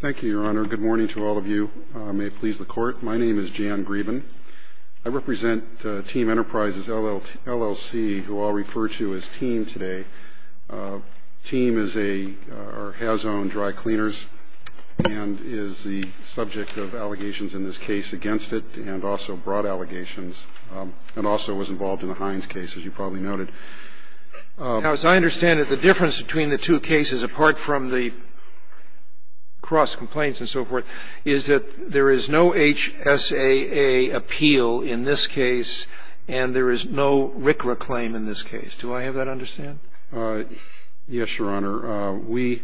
Thank you, Your Honor. Good morning to all of you. May it please the Court. My name is Jan Grieben. I represent Team Enterprises, LLC, who I'll refer to as Team today. Team is a – or has owned dry cleaners and is the subject of allegations in this case against it and also brought allegations and also was involved in the Hines case, as you probably noted. Now, as I understand it, the difference between the two cases, apart from the cross complaints and so forth, is that there is no HSAA appeal in this case and there is no RCRA claim in this case. Do I have that understood? Yes, Your Honor. We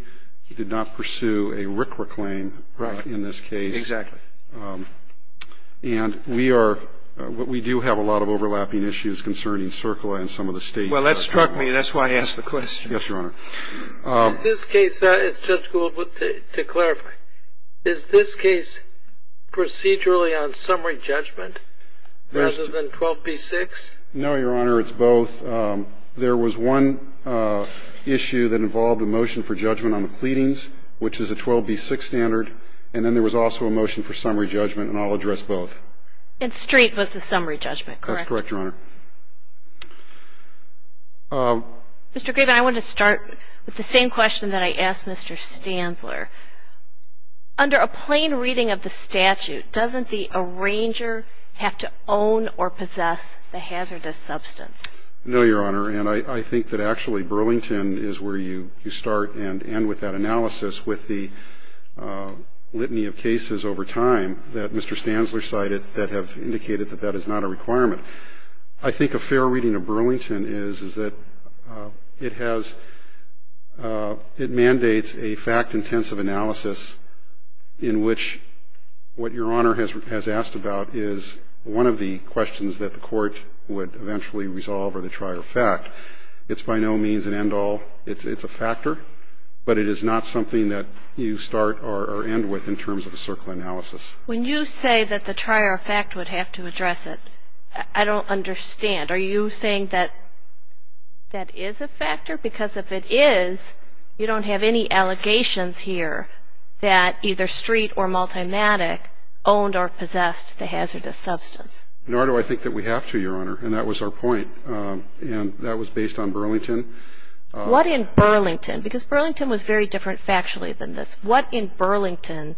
did not pursue a RCRA claim in this case. Right. Exactly. And we are – we do have a lot of overlapping issues concerning CERCLA and some of the state. Well, that struck me. That's why I asked the question. Yes, Your Honor. In this case, Judge Gould, to clarify, is this case procedurally on summary judgment rather than 12b-6? No, Your Honor. It's both. There was one issue that involved a motion for judgment on the pleadings, which is a 12b-6 standard, and then there was also a motion for summary judgment, and I'll address both. And street was the summary judgment, correct? That's correct, Your Honor. Mr. Graven, I want to start with the same question that I asked Mr. Stanzler. Under a plain reading of the statute, doesn't the arranger have to own or possess the hazardous substance? No, Your Honor, and I think that actually Burlington is where you start and end with that analysis with the litany of cases over time that Mr. Stanzler cited that have indicated that that is not a requirement. I think a fair reading of Burlington is that it has – it mandates a fact-intensive analysis in which what Your Honor has asked about is one of the questions that the court would eventually resolve or they try to fact. It's by no means an end-all. It's a factor, but it is not something that you start or end with in terms of a circle analysis. When you say that the try-or-fact would have to address it, I don't understand. Are you saying that that is a factor? Because if it is, you don't have any allegations here that either street or Multimatic owned or possessed the hazardous substance. Nor do I think that we have to, Your Honor, and that was our point. And that was based on Burlington. What in Burlington? Because Burlington was very different factually than this. What in Burlington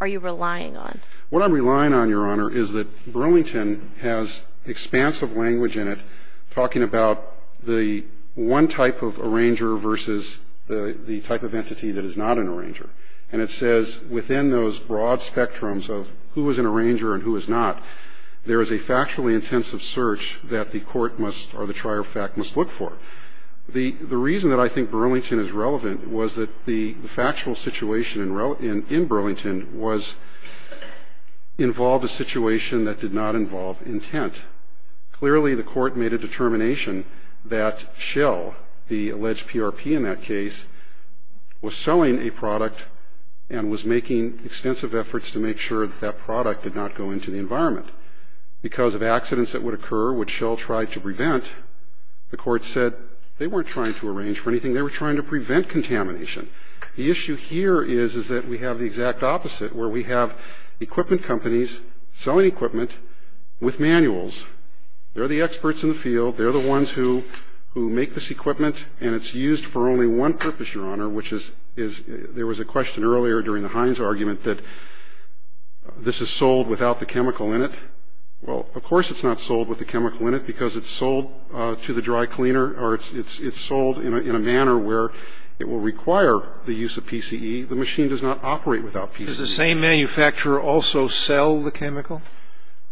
are you relying on? What I'm relying on, Your Honor, is that Burlington has expansive language in it talking about the one type of arranger versus the type of entity that is not an arranger. And it says within those broad spectrums of who is an arranger and who is not, there is a factually intensive search that the court must or the try-or-fact must look for. The reason that I think Burlington is relevant was that the factual situation in Burlington involved a situation that did not involve intent. Clearly, the court made a determination that Shell, the alleged PRP in that case, was selling a product and was making extensive efforts to make sure that that product did not go into the environment. Because of accidents that would occur, which Shell tried to prevent, the court said, they weren't trying to arrange for anything. They were trying to prevent contamination. The issue here is that we have the exact opposite, where we have equipment companies selling equipment with manuals. They're the experts in the field. They're the ones who make this equipment, and it's used for only one purpose, Your Honor, which is there was a question earlier during the Heinz argument that this is sold without the chemical in it. Well, of course it's not sold with the chemical in it because it's sold to the dry cleaner, or it's sold in a manner where it will require the use of PCE. The machine does not operate without PCE. Does the same manufacturer also sell the chemical?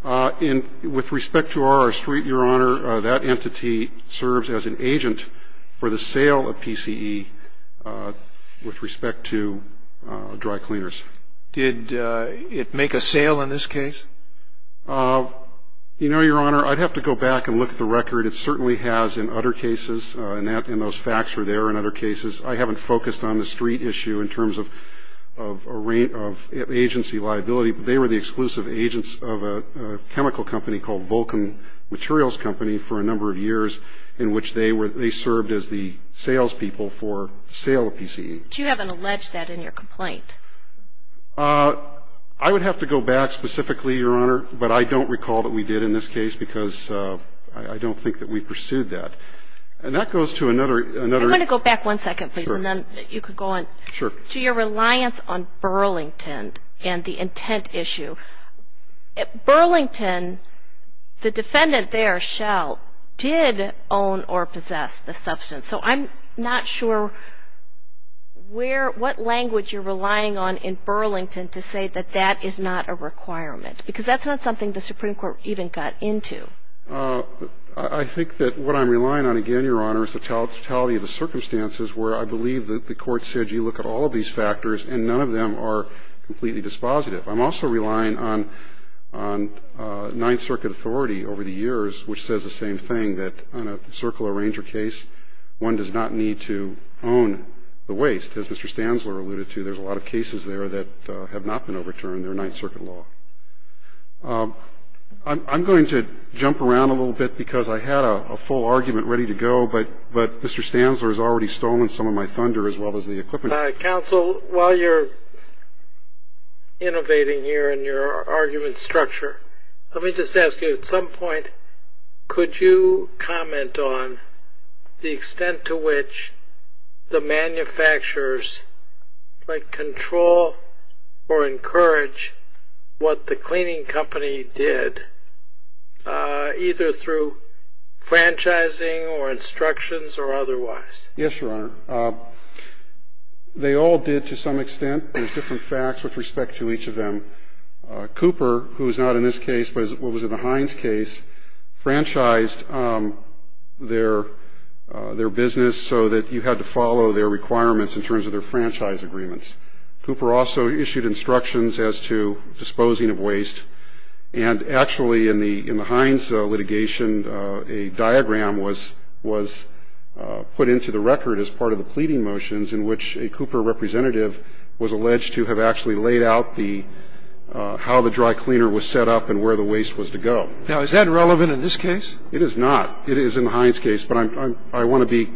With respect to RR Street, Your Honor, that entity serves as an agent for the sale of PCE with respect to dry cleaners. Did it make a sale in this case? You know, Your Honor, I'd have to go back and look at the record. It certainly has in other cases, and those facts are there in other cases. I haven't focused on the street issue in terms of agency liability, but they were the exclusive agents of a chemical company called Vulcan Materials Company for a number of years in which they served as the salespeople for sale of PCE. But you haven't alleged that in your complaint. I would have to go back specifically, Your Honor, but I don't recall that we did in this case because I don't think that we pursued that. And that goes to another issue. I'm going to go back one second, please, and then you can go on. Sure. To your reliance on Burlington and the intent issue. Burlington, the defendant there, Shell, did own or possess the substance. So I'm not sure what language you're relying on in Burlington to say that that is not a requirement because that's not something the Supreme Court even got into. I think that what I'm relying on, again, Your Honor, is the totality of the circumstances where I believe that the Court said you look at all of these factors and none of them are completely dispositive. I'm also relying on Ninth Circuit authority over the years, which says the same thing, that on a Circle Arranger case, one does not need to own the waste. As Mr. Stanzler alluded to, there's a lot of cases there that have not been overturned. They're Ninth Circuit law. I'm going to jump around a little bit because I had a full argument ready to go, but Mr. Stanzler has already stolen some of my thunder as well as the equipment. Counsel, while you're innovating here in your argument structure, let me just ask you, at some point could you comment on the extent to which the manufacturers, like, control or encourage what the cleaning company did, either through franchising or instructions or otherwise? Yes, Your Honor. They all did to some extent. There's different facts with respect to each of them. Cooper, who is not in this case but was in the Hines case, franchised their business so that you had to follow their requirements in terms of their franchise agreements. Cooper also issued instructions as to disposing of waste. And actually, in the Hines litigation, a diagram was put into the record as part of the pleading motions in which a Cooper representative was alleged to have actually laid out the how the dry cleaner was set up and where the waste was to go. Now, is that relevant in this case? It is not. It is in the Hines case, but I want to be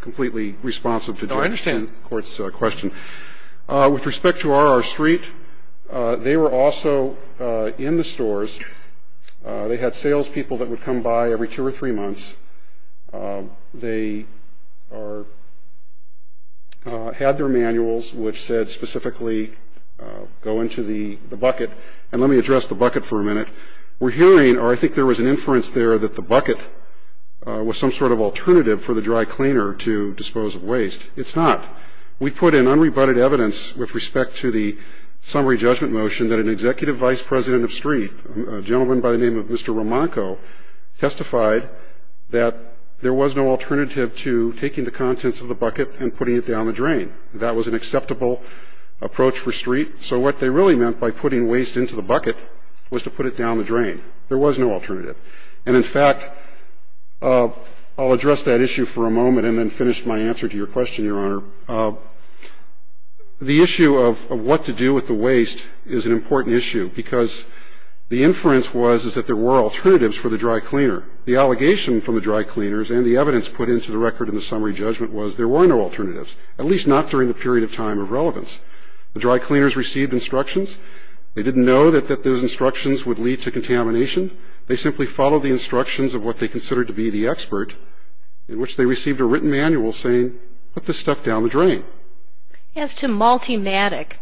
completely responsive to the Court's question. No, I understand. With respect to RR Street, they were also in the stores. They had salespeople that would come by every two or three months. They had their manuals, which said specifically, go into the bucket. And let me address the bucket for a minute. We're hearing, or I think there was an inference there, that the bucket was some sort of alternative for the dry cleaner to dispose of waste. It's not. We put in unrebutted evidence with respect to the summary judgment motion that an executive vice president of Street, a gentleman by the name of Mr. Romanko, testified that there was no alternative to taking the contents of the bucket and putting it down the drain. That was an acceptable approach for Street. So what they really meant by putting waste into the bucket was to put it down the drain. There was no alternative. And in fact, I'll address that issue for a moment and then finish my answer to your question, Your Honor. The issue of what to do with the waste is an important issue, because the inference was that there were alternatives for the dry cleaner. The allegation from the dry cleaners and the evidence put into the record in the summary judgment was there were no alternatives, at least not during the period of time of relevance. The dry cleaners received instructions. They didn't know that those instructions would lead to contamination. They simply followed the instructions of what they considered to be the expert, in which they received a written manual saying put this stuff down the drain. As to Multimatic,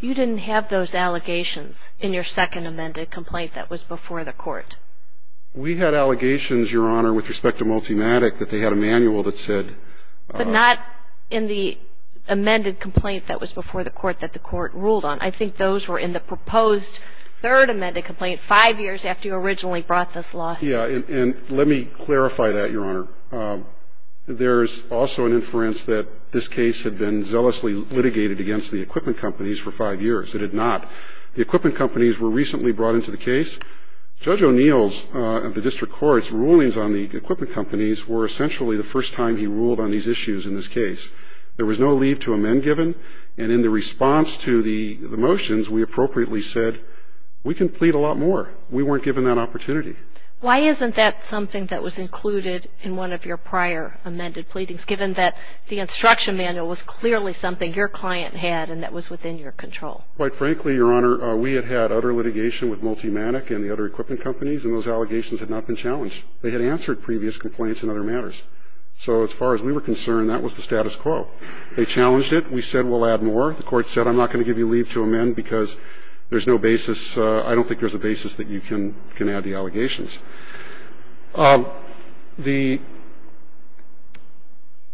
you didn't have those allegations in your second amended complaint that was before the court. We had allegations, Your Honor, with respect to Multimatic that they had a manual that said ---- But not in the amended complaint that was before the court that the court ruled on. I think those were in the proposed third amended complaint, five years after you originally brought this lawsuit. Yeah. And let me clarify that, Your Honor. There's also an inference that this case had been zealously litigated against the equipment companies for five years. It had not. The equipment companies were recently brought into the case. Judge O'Neill's and the district court's rulings on the equipment companies were essentially the first time he ruled on these issues in this case. There was no leave to amend given. And in the response to the motions, we appropriately said we can plead a lot more. We weren't given that opportunity. Why isn't that something that was included in one of your prior amended pleadings, given that the instruction manual was clearly something your client had and that was within your control? Quite frankly, Your Honor, we had had other litigation with Multimatic and the other equipment companies, and those allegations had not been challenged. They had answered previous complaints in other matters. So as far as we were concerned, that was the status quo. They challenged it. We said we'll add more. The court said I'm not going to give you leave to amend because there's no basis. I don't think there's a basis that you can add the allegations.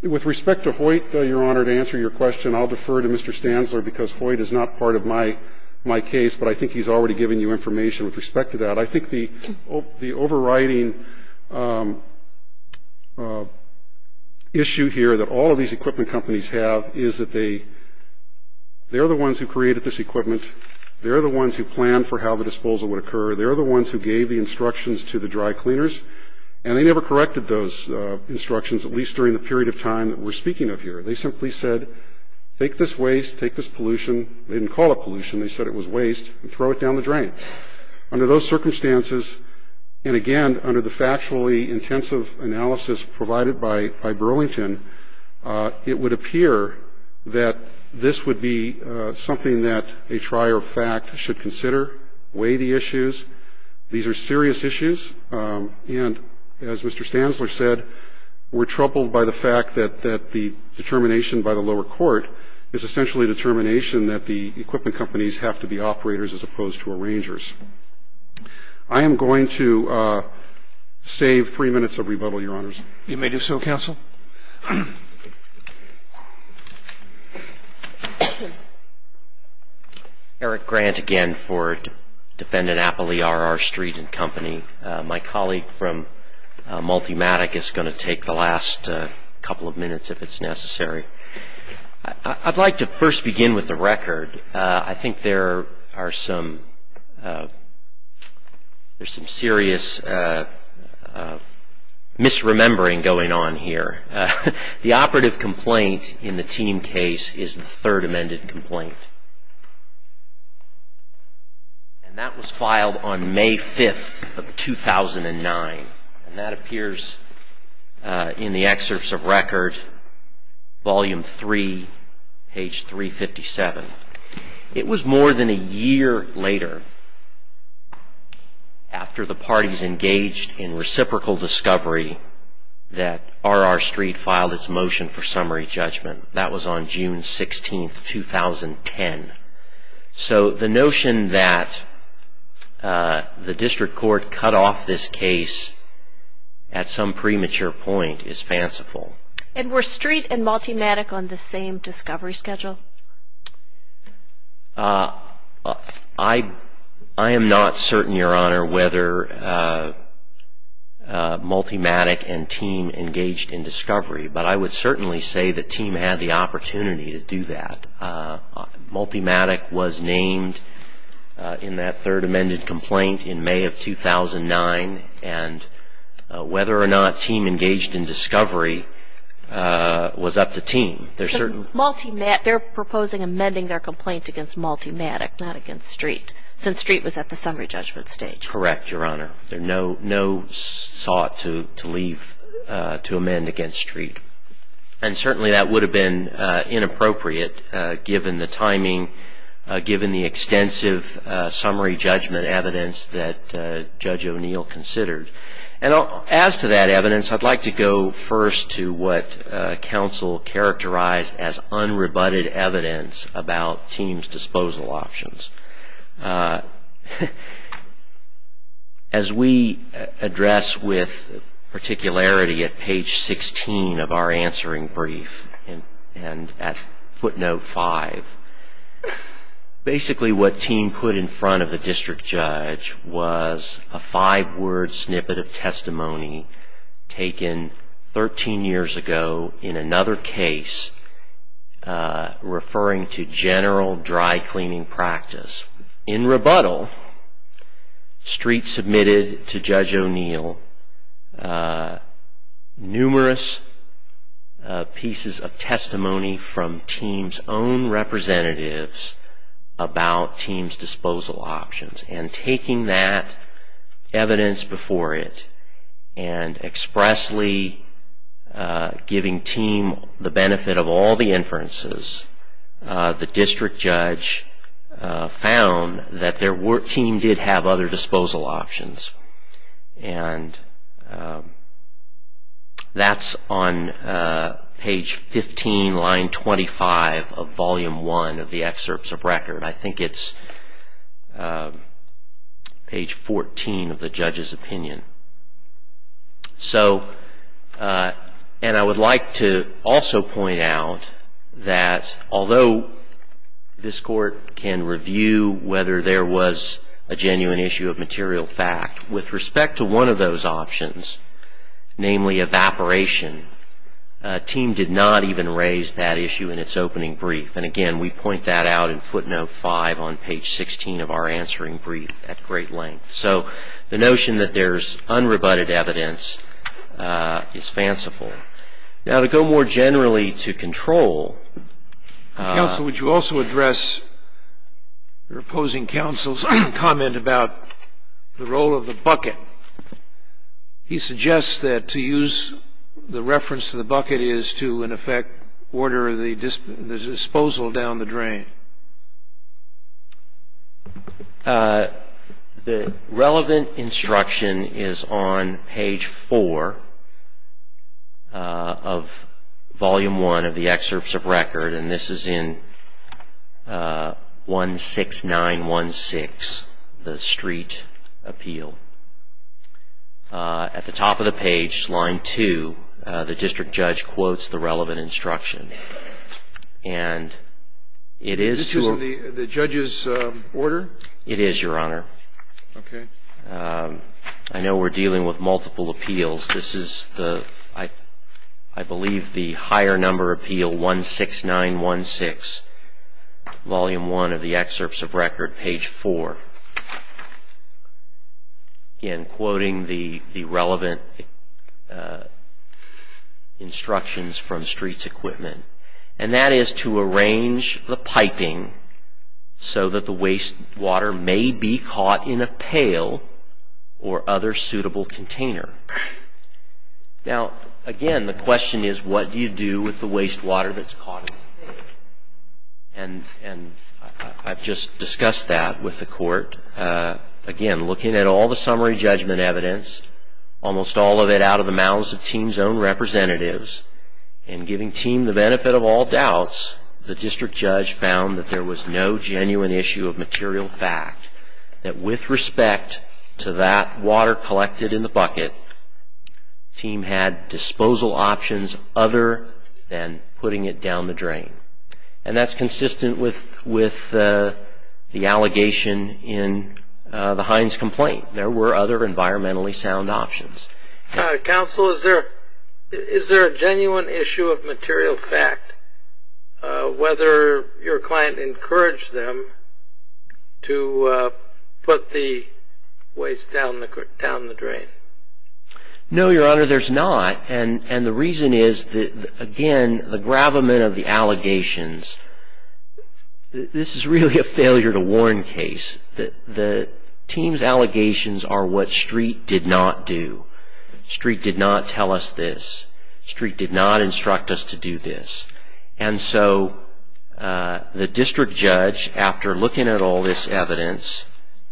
With respect to Hoyt, Your Honor, to answer your question, I'll defer to Mr. Stanzler because Hoyt is not part of my case, but I think he's already given you information with respect to that. I think the overriding issue here that all of these equipment companies have is that they're the ones who created this equipment. They're the ones who planned for how the disposal would occur. They're the ones who gave the instructions to the dry cleaners, and they never corrected those instructions, at least during the period of time that we're speaking of here. They simply said take this waste, take this pollution. They didn't call it pollution. They said it was waste, and throw it down the drain. Under those circumstances, and again, under the factually intensive analysis provided by Burlington, it would appear that this would be something that a trier of fact should consider, weigh the issues. These are serious issues, and as Mr. Stanzler said, we're troubled by the fact that the determination by the lower court is essentially a determination that the equipment companies have to be operators as opposed to arrangers. I am going to save three minutes of rebuttal, Your Honors. You may do so, Counsel. Eric Grant again for Defendant Appley, R.R. Street and Company. My colleague from Multimatic is going to take the last couple of minutes if it's necessary. I'd like to first begin with the record. I think there are some serious misremembering going on here. The operative complaint in the team case is the third amended complaint, and that was filed on May 5th of 2009. That appears in the excerpts of record, Volume 3, page 357. It was more than a year later, after the parties engaged in reciprocal discovery, that R.R. Street filed its motion for summary judgment. That was on June 16th, 2010. So the notion that the district court cut off this case at some premature point is fanciful. And were Street and Multimatic on the same discovery schedule? I am not certain, Your Honor, whether Multimatic and team engaged in discovery, but I would certainly say the team had the opportunity to do that. Multimatic was named in that third amended complaint in May of 2009, and whether or not team engaged in discovery was up to team. They're proposing amending their complaint against Multimatic, not against Street, since Street was at the summary judgment stage. Correct, Your Honor. There's no sought to leave to amend against Street. And certainly that would have been inappropriate given the timing, given the extensive summary judgment evidence that Judge O'Neill considered. And as to that evidence, I'd like to go first to what counsel characterized as unrebutted evidence about team's disposal options. As we address with particularity at page 16 of our answering brief and at footnote 5, basically what team put in front of the district judge was a five-word snippet of testimony taken 13 years ago in another case referring to general dry cleaning practice. In rebuttal, Street submitted to Judge O'Neill numerous pieces of testimony from team's own representatives about team's disposal options. And taking that evidence before it and expressly giving team the benefit of all the inferences, the district judge found that their team did have other disposal options. And that's on page 15, line 25 of volume 1 of the excerpts of record. I think it's page 14 of the judge's opinion. And I would like to also point out that although this court can review whether there was a genuine issue of material fact, with respect to one of those options, namely evaporation, team did not even raise that issue in its opening brief. And again, we point that out in footnote 5 on page 16 of our answering brief at great length. So the notion that there's unrebutted evidence is fanciful. Now to go more generally to control. Counsel, would you also address your opposing counsel's comment about the role of the bucket? He suggests that to use the reference to the bucket is to in effect order the disposal down the drain. The relevant instruction is on page 4 of volume 1 of the excerpts of record. And this is in 16916, the street appeal. At the top of the page, line 2, the district judge quotes the relevant instruction. And it is to a... This is in the judge's order? It is, Your Honor. Okay. I know we're dealing with multiple appeals. This is the, I believe, the higher number appeal, 16916, volume 1 of the excerpts of record, page 4. Again, quoting the relevant instructions from streets equipment. And that is to arrange the piping so that the wastewater may be caught in a pail or other suitable container. Now, again, the question is what do you do with the wastewater that's caught in the pail? And I've just discussed that with the court. Again, looking at all the summary judgment evidence, almost all of it out of the mouths of team's own representatives, and giving team the benefit of all doubts, the district judge found that there was no genuine issue of material fact. That with respect to that water collected in the bucket, team had disposal options other than putting it down the drain. And that's consistent with the allegation in the Hines complaint. There were other environmentally sound options. Counsel, is there a genuine issue of material fact, whether your client encouraged them to put the waste down the drain? No, Your Honor, there's not. And the reason is, again, the gravamen of the allegations. This is really a failure to warn case. The team's allegations are what Street did not do. Street did not tell us this. Street did not instruct us to do this. And so the district judge, after looking at all this evidence,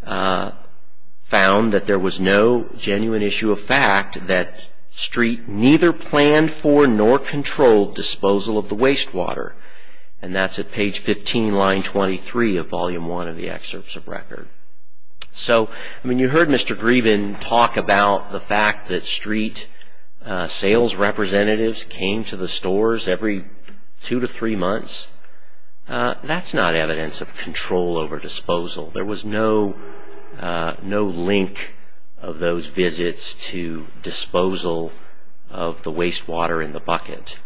found that there was no genuine issue of fact that Street neither planned for nor controlled disposal of the wastewater. And that's at page 15, line 23 of volume 1 of the excerpts of record. So, I mean, you heard Mr. Grieben talk about the fact that Street sales representatives came to the stores every two to three months. That's not evidence of control over disposal. There was no link of those visits to disposal of the wastewater in the bucket.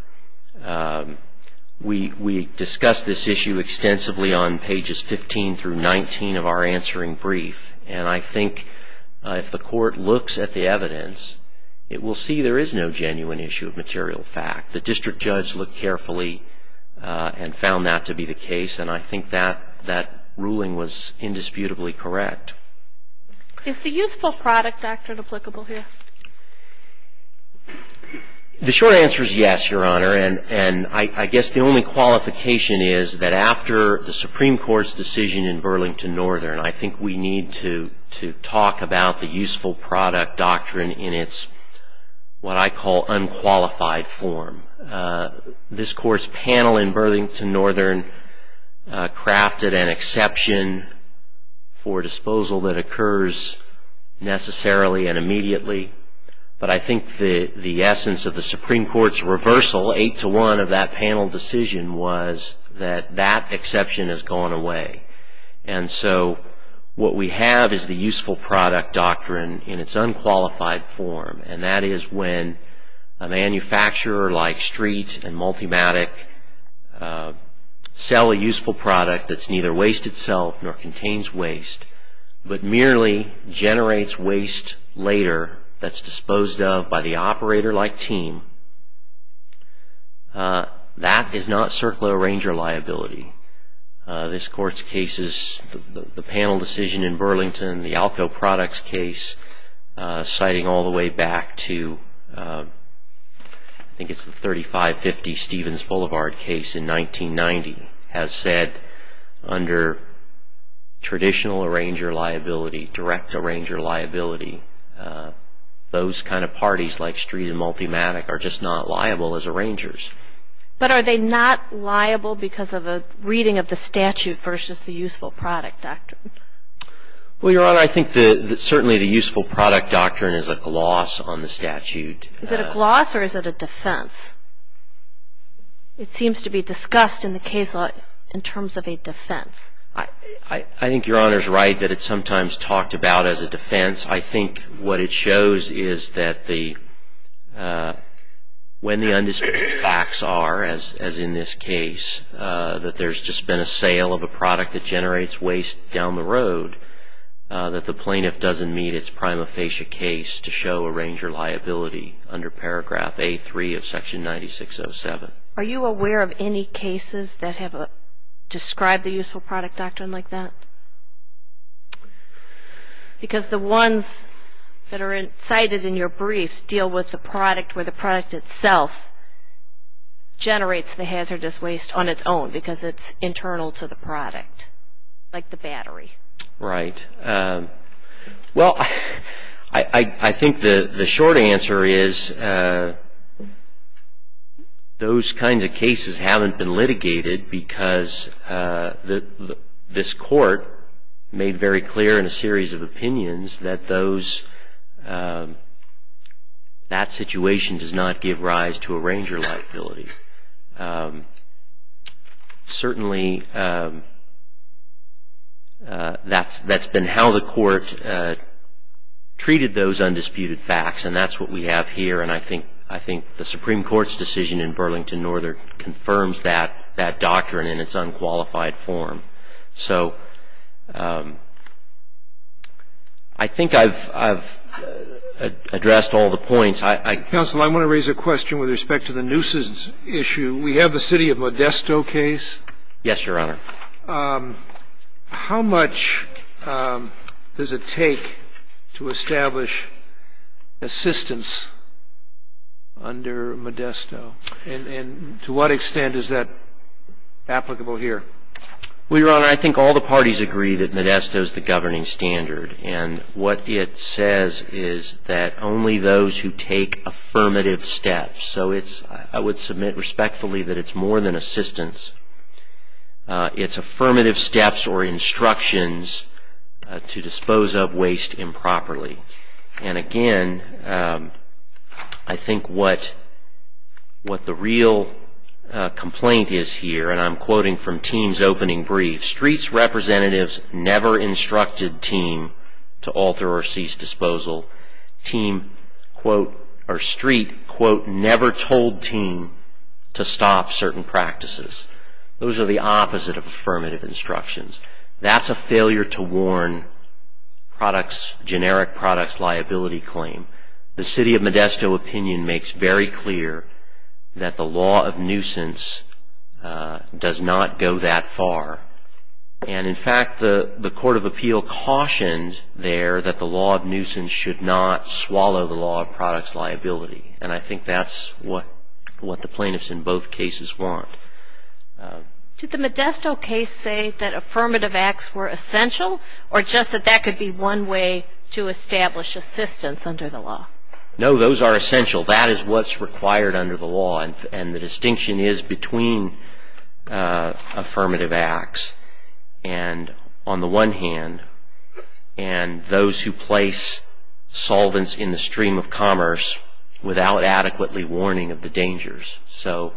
We discussed this issue extensively on pages 15 through 19 of our answering brief. And I think if the court looks at the evidence, it will see there is no genuine issue of material fact. The district judge looked carefully and found that to be the case. And I think that ruling was indisputably correct. Is the useful product doctrine applicable here? The short answer is yes, Your Honor. And I guess the only qualification is that after the Supreme Court's decision in Burlington Northern, I think we need to talk about the useful product doctrine in its what I call unqualified form. This court's panel in Burlington Northern crafted an exception for disposal that occurs necessarily and immediately. But I think the essence of the Supreme Court's reversal, eight to one of that panel decision, was that that exception has gone away. And so what we have is the useful product doctrine in its unqualified form. And that is when a manufacturer like Street and Multimatic sell a useful product that's neither waste itself nor contains waste, but merely generates waste later that's disposed of by the operator-like team, that is not circular arranger liability. This court's case is the panel decision in Burlington, the ALCO products case, citing all the way back to I think it's the 3550 Stevens Boulevard case in 1990, has said under traditional arranger liability, direct arranger liability, those kind of parties like Street and Multimatic are just not liable as arrangers. But are they not liable because of a reading of the statute versus the useful product doctrine? Well, Your Honor, I think that certainly the useful product doctrine is a gloss on the statute. Is it a gloss or is it a defense? It seems to be discussed in the case law in terms of a defense. I think Your Honor's right that it's sometimes talked about as a defense. I think what it shows is that when the undisputed facts are, as in this case, that there's just been a sale of a product that generates waste down the road, that the plaintiff doesn't meet its prima facie case to show arranger liability under paragraph A3 of section 9607. Are you aware of any cases that have described the useful product doctrine like that? Because the ones that are cited in your briefs deal with the product where the product itself generates the hazardous waste on its own because it's internal to the product, like the battery. Right. Well, I think the short answer is those kinds of cases haven't been litigated because this Court made very clear in a series of opinions that that situation does not give rise to arranger liability. Certainly, that's been how the Court treated those undisputed facts, and that's what we have here. And I think the Supreme Court's decision in Burlington-Northern confirms that doctrine in its unqualified form. So I think I've addressed all the points. Counsel, I want to raise a question with respect to the nuisance issue. We have the city of Modesto case. Yes, Your Honor. How much does it take to establish assistance under Modesto, and to what extent is that applicable here? Well, Your Honor, I think all the parties agree that Modesto is the governing standard, and what it says is that only those who take affirmative steps. So I would submit respectfully that it's more than assistance. It's affirmative steps or instructions to dispose of waste improperly. And again, I think what the real complaint is here, and I'm quoting from Teem's opening brief, Street's representatives never instructed Teem to alter or cease disposal. Street, quote, never told Teem to stop certain practices. Those are the opposite of affirmative instructions. That's a failure to warn generic products liability claim. The city of Modesto opinion makes very clear that the law of nuisance does not go that far. And in fact, the court of appeal cautioned there that the law of nuisance should not swallow the law of products liability. And I think that's what the plaintiffs in both cases want. Did the Modesto case say that affirmative acts were essential, or just that that could be one way to establish assistance under the law? No, those are essential. That is what's required under the law. And the distinction is between affirmative acts and on the one hand, and those who place solvents in the stream of commerce without adequately warning of the dangers. So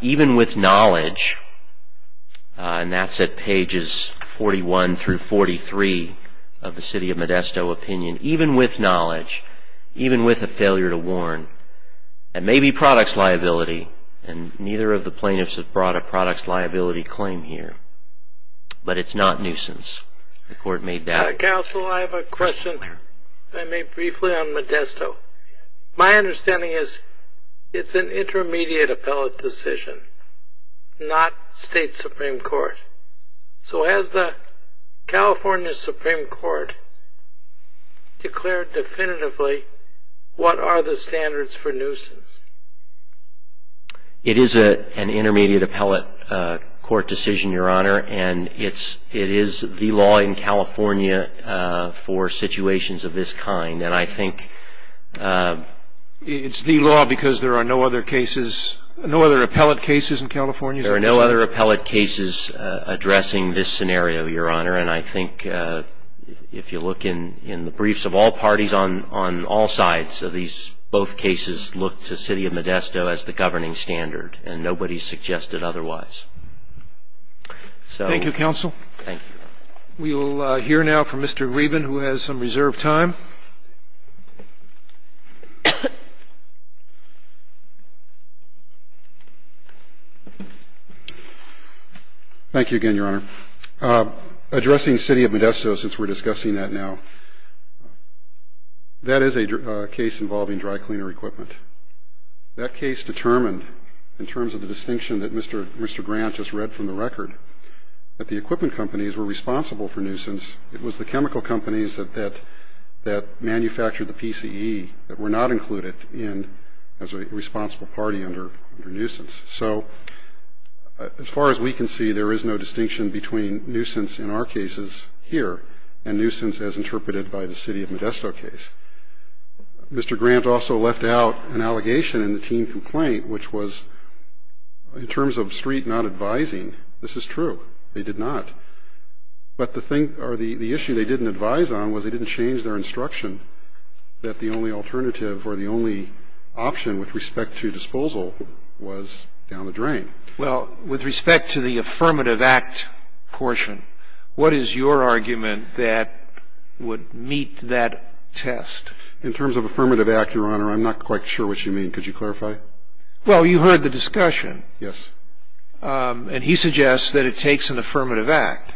even with knowledge, and that's at pages 41 through 43 of the city of Modesto opinion, even with knowledge, even with a failure to warn, it may be products liability, and neither of the plaintiffs have brought a products liability claim here. But it's not nuisance. The court made that. Counsel, I have a question, if I may briefly, on Modesto. My understanding is it's an intermediate appellate decision, not state supreme court. So has the California supreme court declared definitively what are the standards for nuisance? It is an intermediate appellate court decision, Your Honor, and it is the law in California for situations of this kind. And I think it's the law because there are no other cases, no other appellate cases in California? There are no other appellate cases addressing this scenario, Your Honor, and I think if you look in the briefs of all parties on all sides of these, both cases look to city of Modesto as the governing standard, and nobody suggested otherwise. Thank you, Counsel. Thank you. We will hear now from Mr. Grieben, who has some reserved time. Thank you again, Your Honor. Addressing city of Modesto, since we're discussing that now, that is a case involving dry cleaner equipment. That case determined, in terms of the distinction that Mr. Grant just read from the record, that the equipment companies were responsible for nuisance. It was the chemical companies that manufactured the PCE that were not included as a responsible party under nuisance. So as far as we can see, there is no distinction between nuisance in our cases here and nuisance as interpreted by the city of Modesto case. Mr. Grant also left out an allegation in the team complaint, which was, in terms of street not advising, this is true, they did not. But the thing or the issue they didn't advise on was they didn't change their instruction that the only alternative or the only option with respect to disposal was down the drain. Well, with respect to the affirmative act portion, what is your argument that would meet that test? In terms of affirmative act, Your Honor, I'm not quite sure what you mean. Could you clarify? Well, you heard the discussion. Yes. And he suggests that it takes an affirmative act.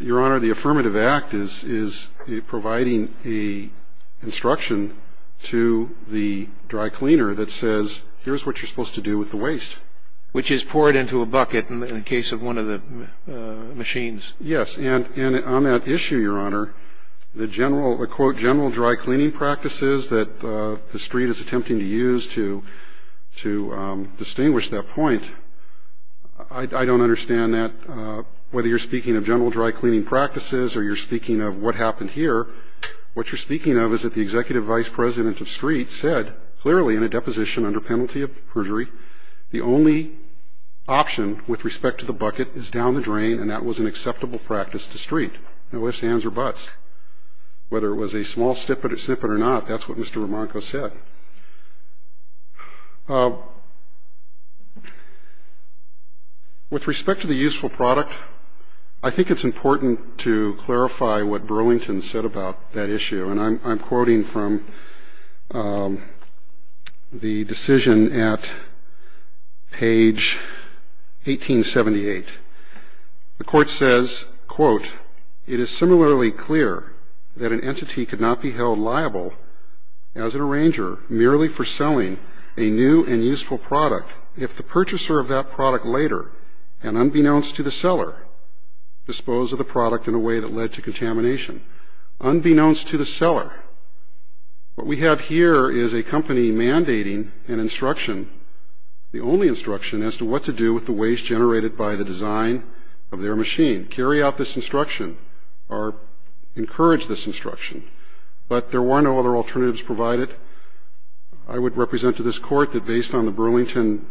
Your Honor, the affirmative act is providing the instruction to the dry cleaner that says, here's what you're supposed to do with the waste. Which is pour it into a bucket in the case of one of the machines. Yes. And on that issue, Your Honor, the general dry cleaning practices that the street is attempting to use to distinguish that point, I don't understand that whether you're speaking of general dry cleaning practices or you're speaking of what happened here, what you're speaking of is that the executive vice president of street said, clearly in a deposition under penalty of perjury, the only option with respect to the bucket is down the drain, and that was an acceptable practice to street, no ifs, ands, or buts. Whether it was a small snippet or not, that's what Mr. Remarco said. With respect to the useful product, I think it's important to clarify what Burlington said about that issue, and I'm quoting from the decision at page 1878. The court says, quote, it is similarly clear that an entity could not be held liable as an arranger merely for selling a new and useful product if the purchaser of that product later, and unbeknownst to the seller, disposed of the product in a way that led to contamination, unbeknownst to the seller. What we have here is a company mandating an instruction, the only instruction, as to what to do with the waste generated by the design of their machine. Carry out this instruction or encourage this instruction, but there were no other alternatives provided. I would represent to this Court that based on the Burlington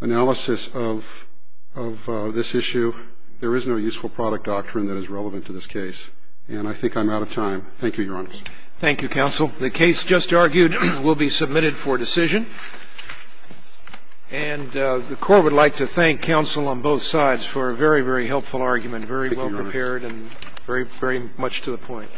analysis of this issue, there is no useful product doctrine that is relevant to this case, and I think I'm out of time. Thank you, Your Honor. Thank you, counsel. The case just argued will be submitted for decision, and the Court would like to thank counsel on both sides for a very, very helpful argument, very well prepared and very, very much to the point.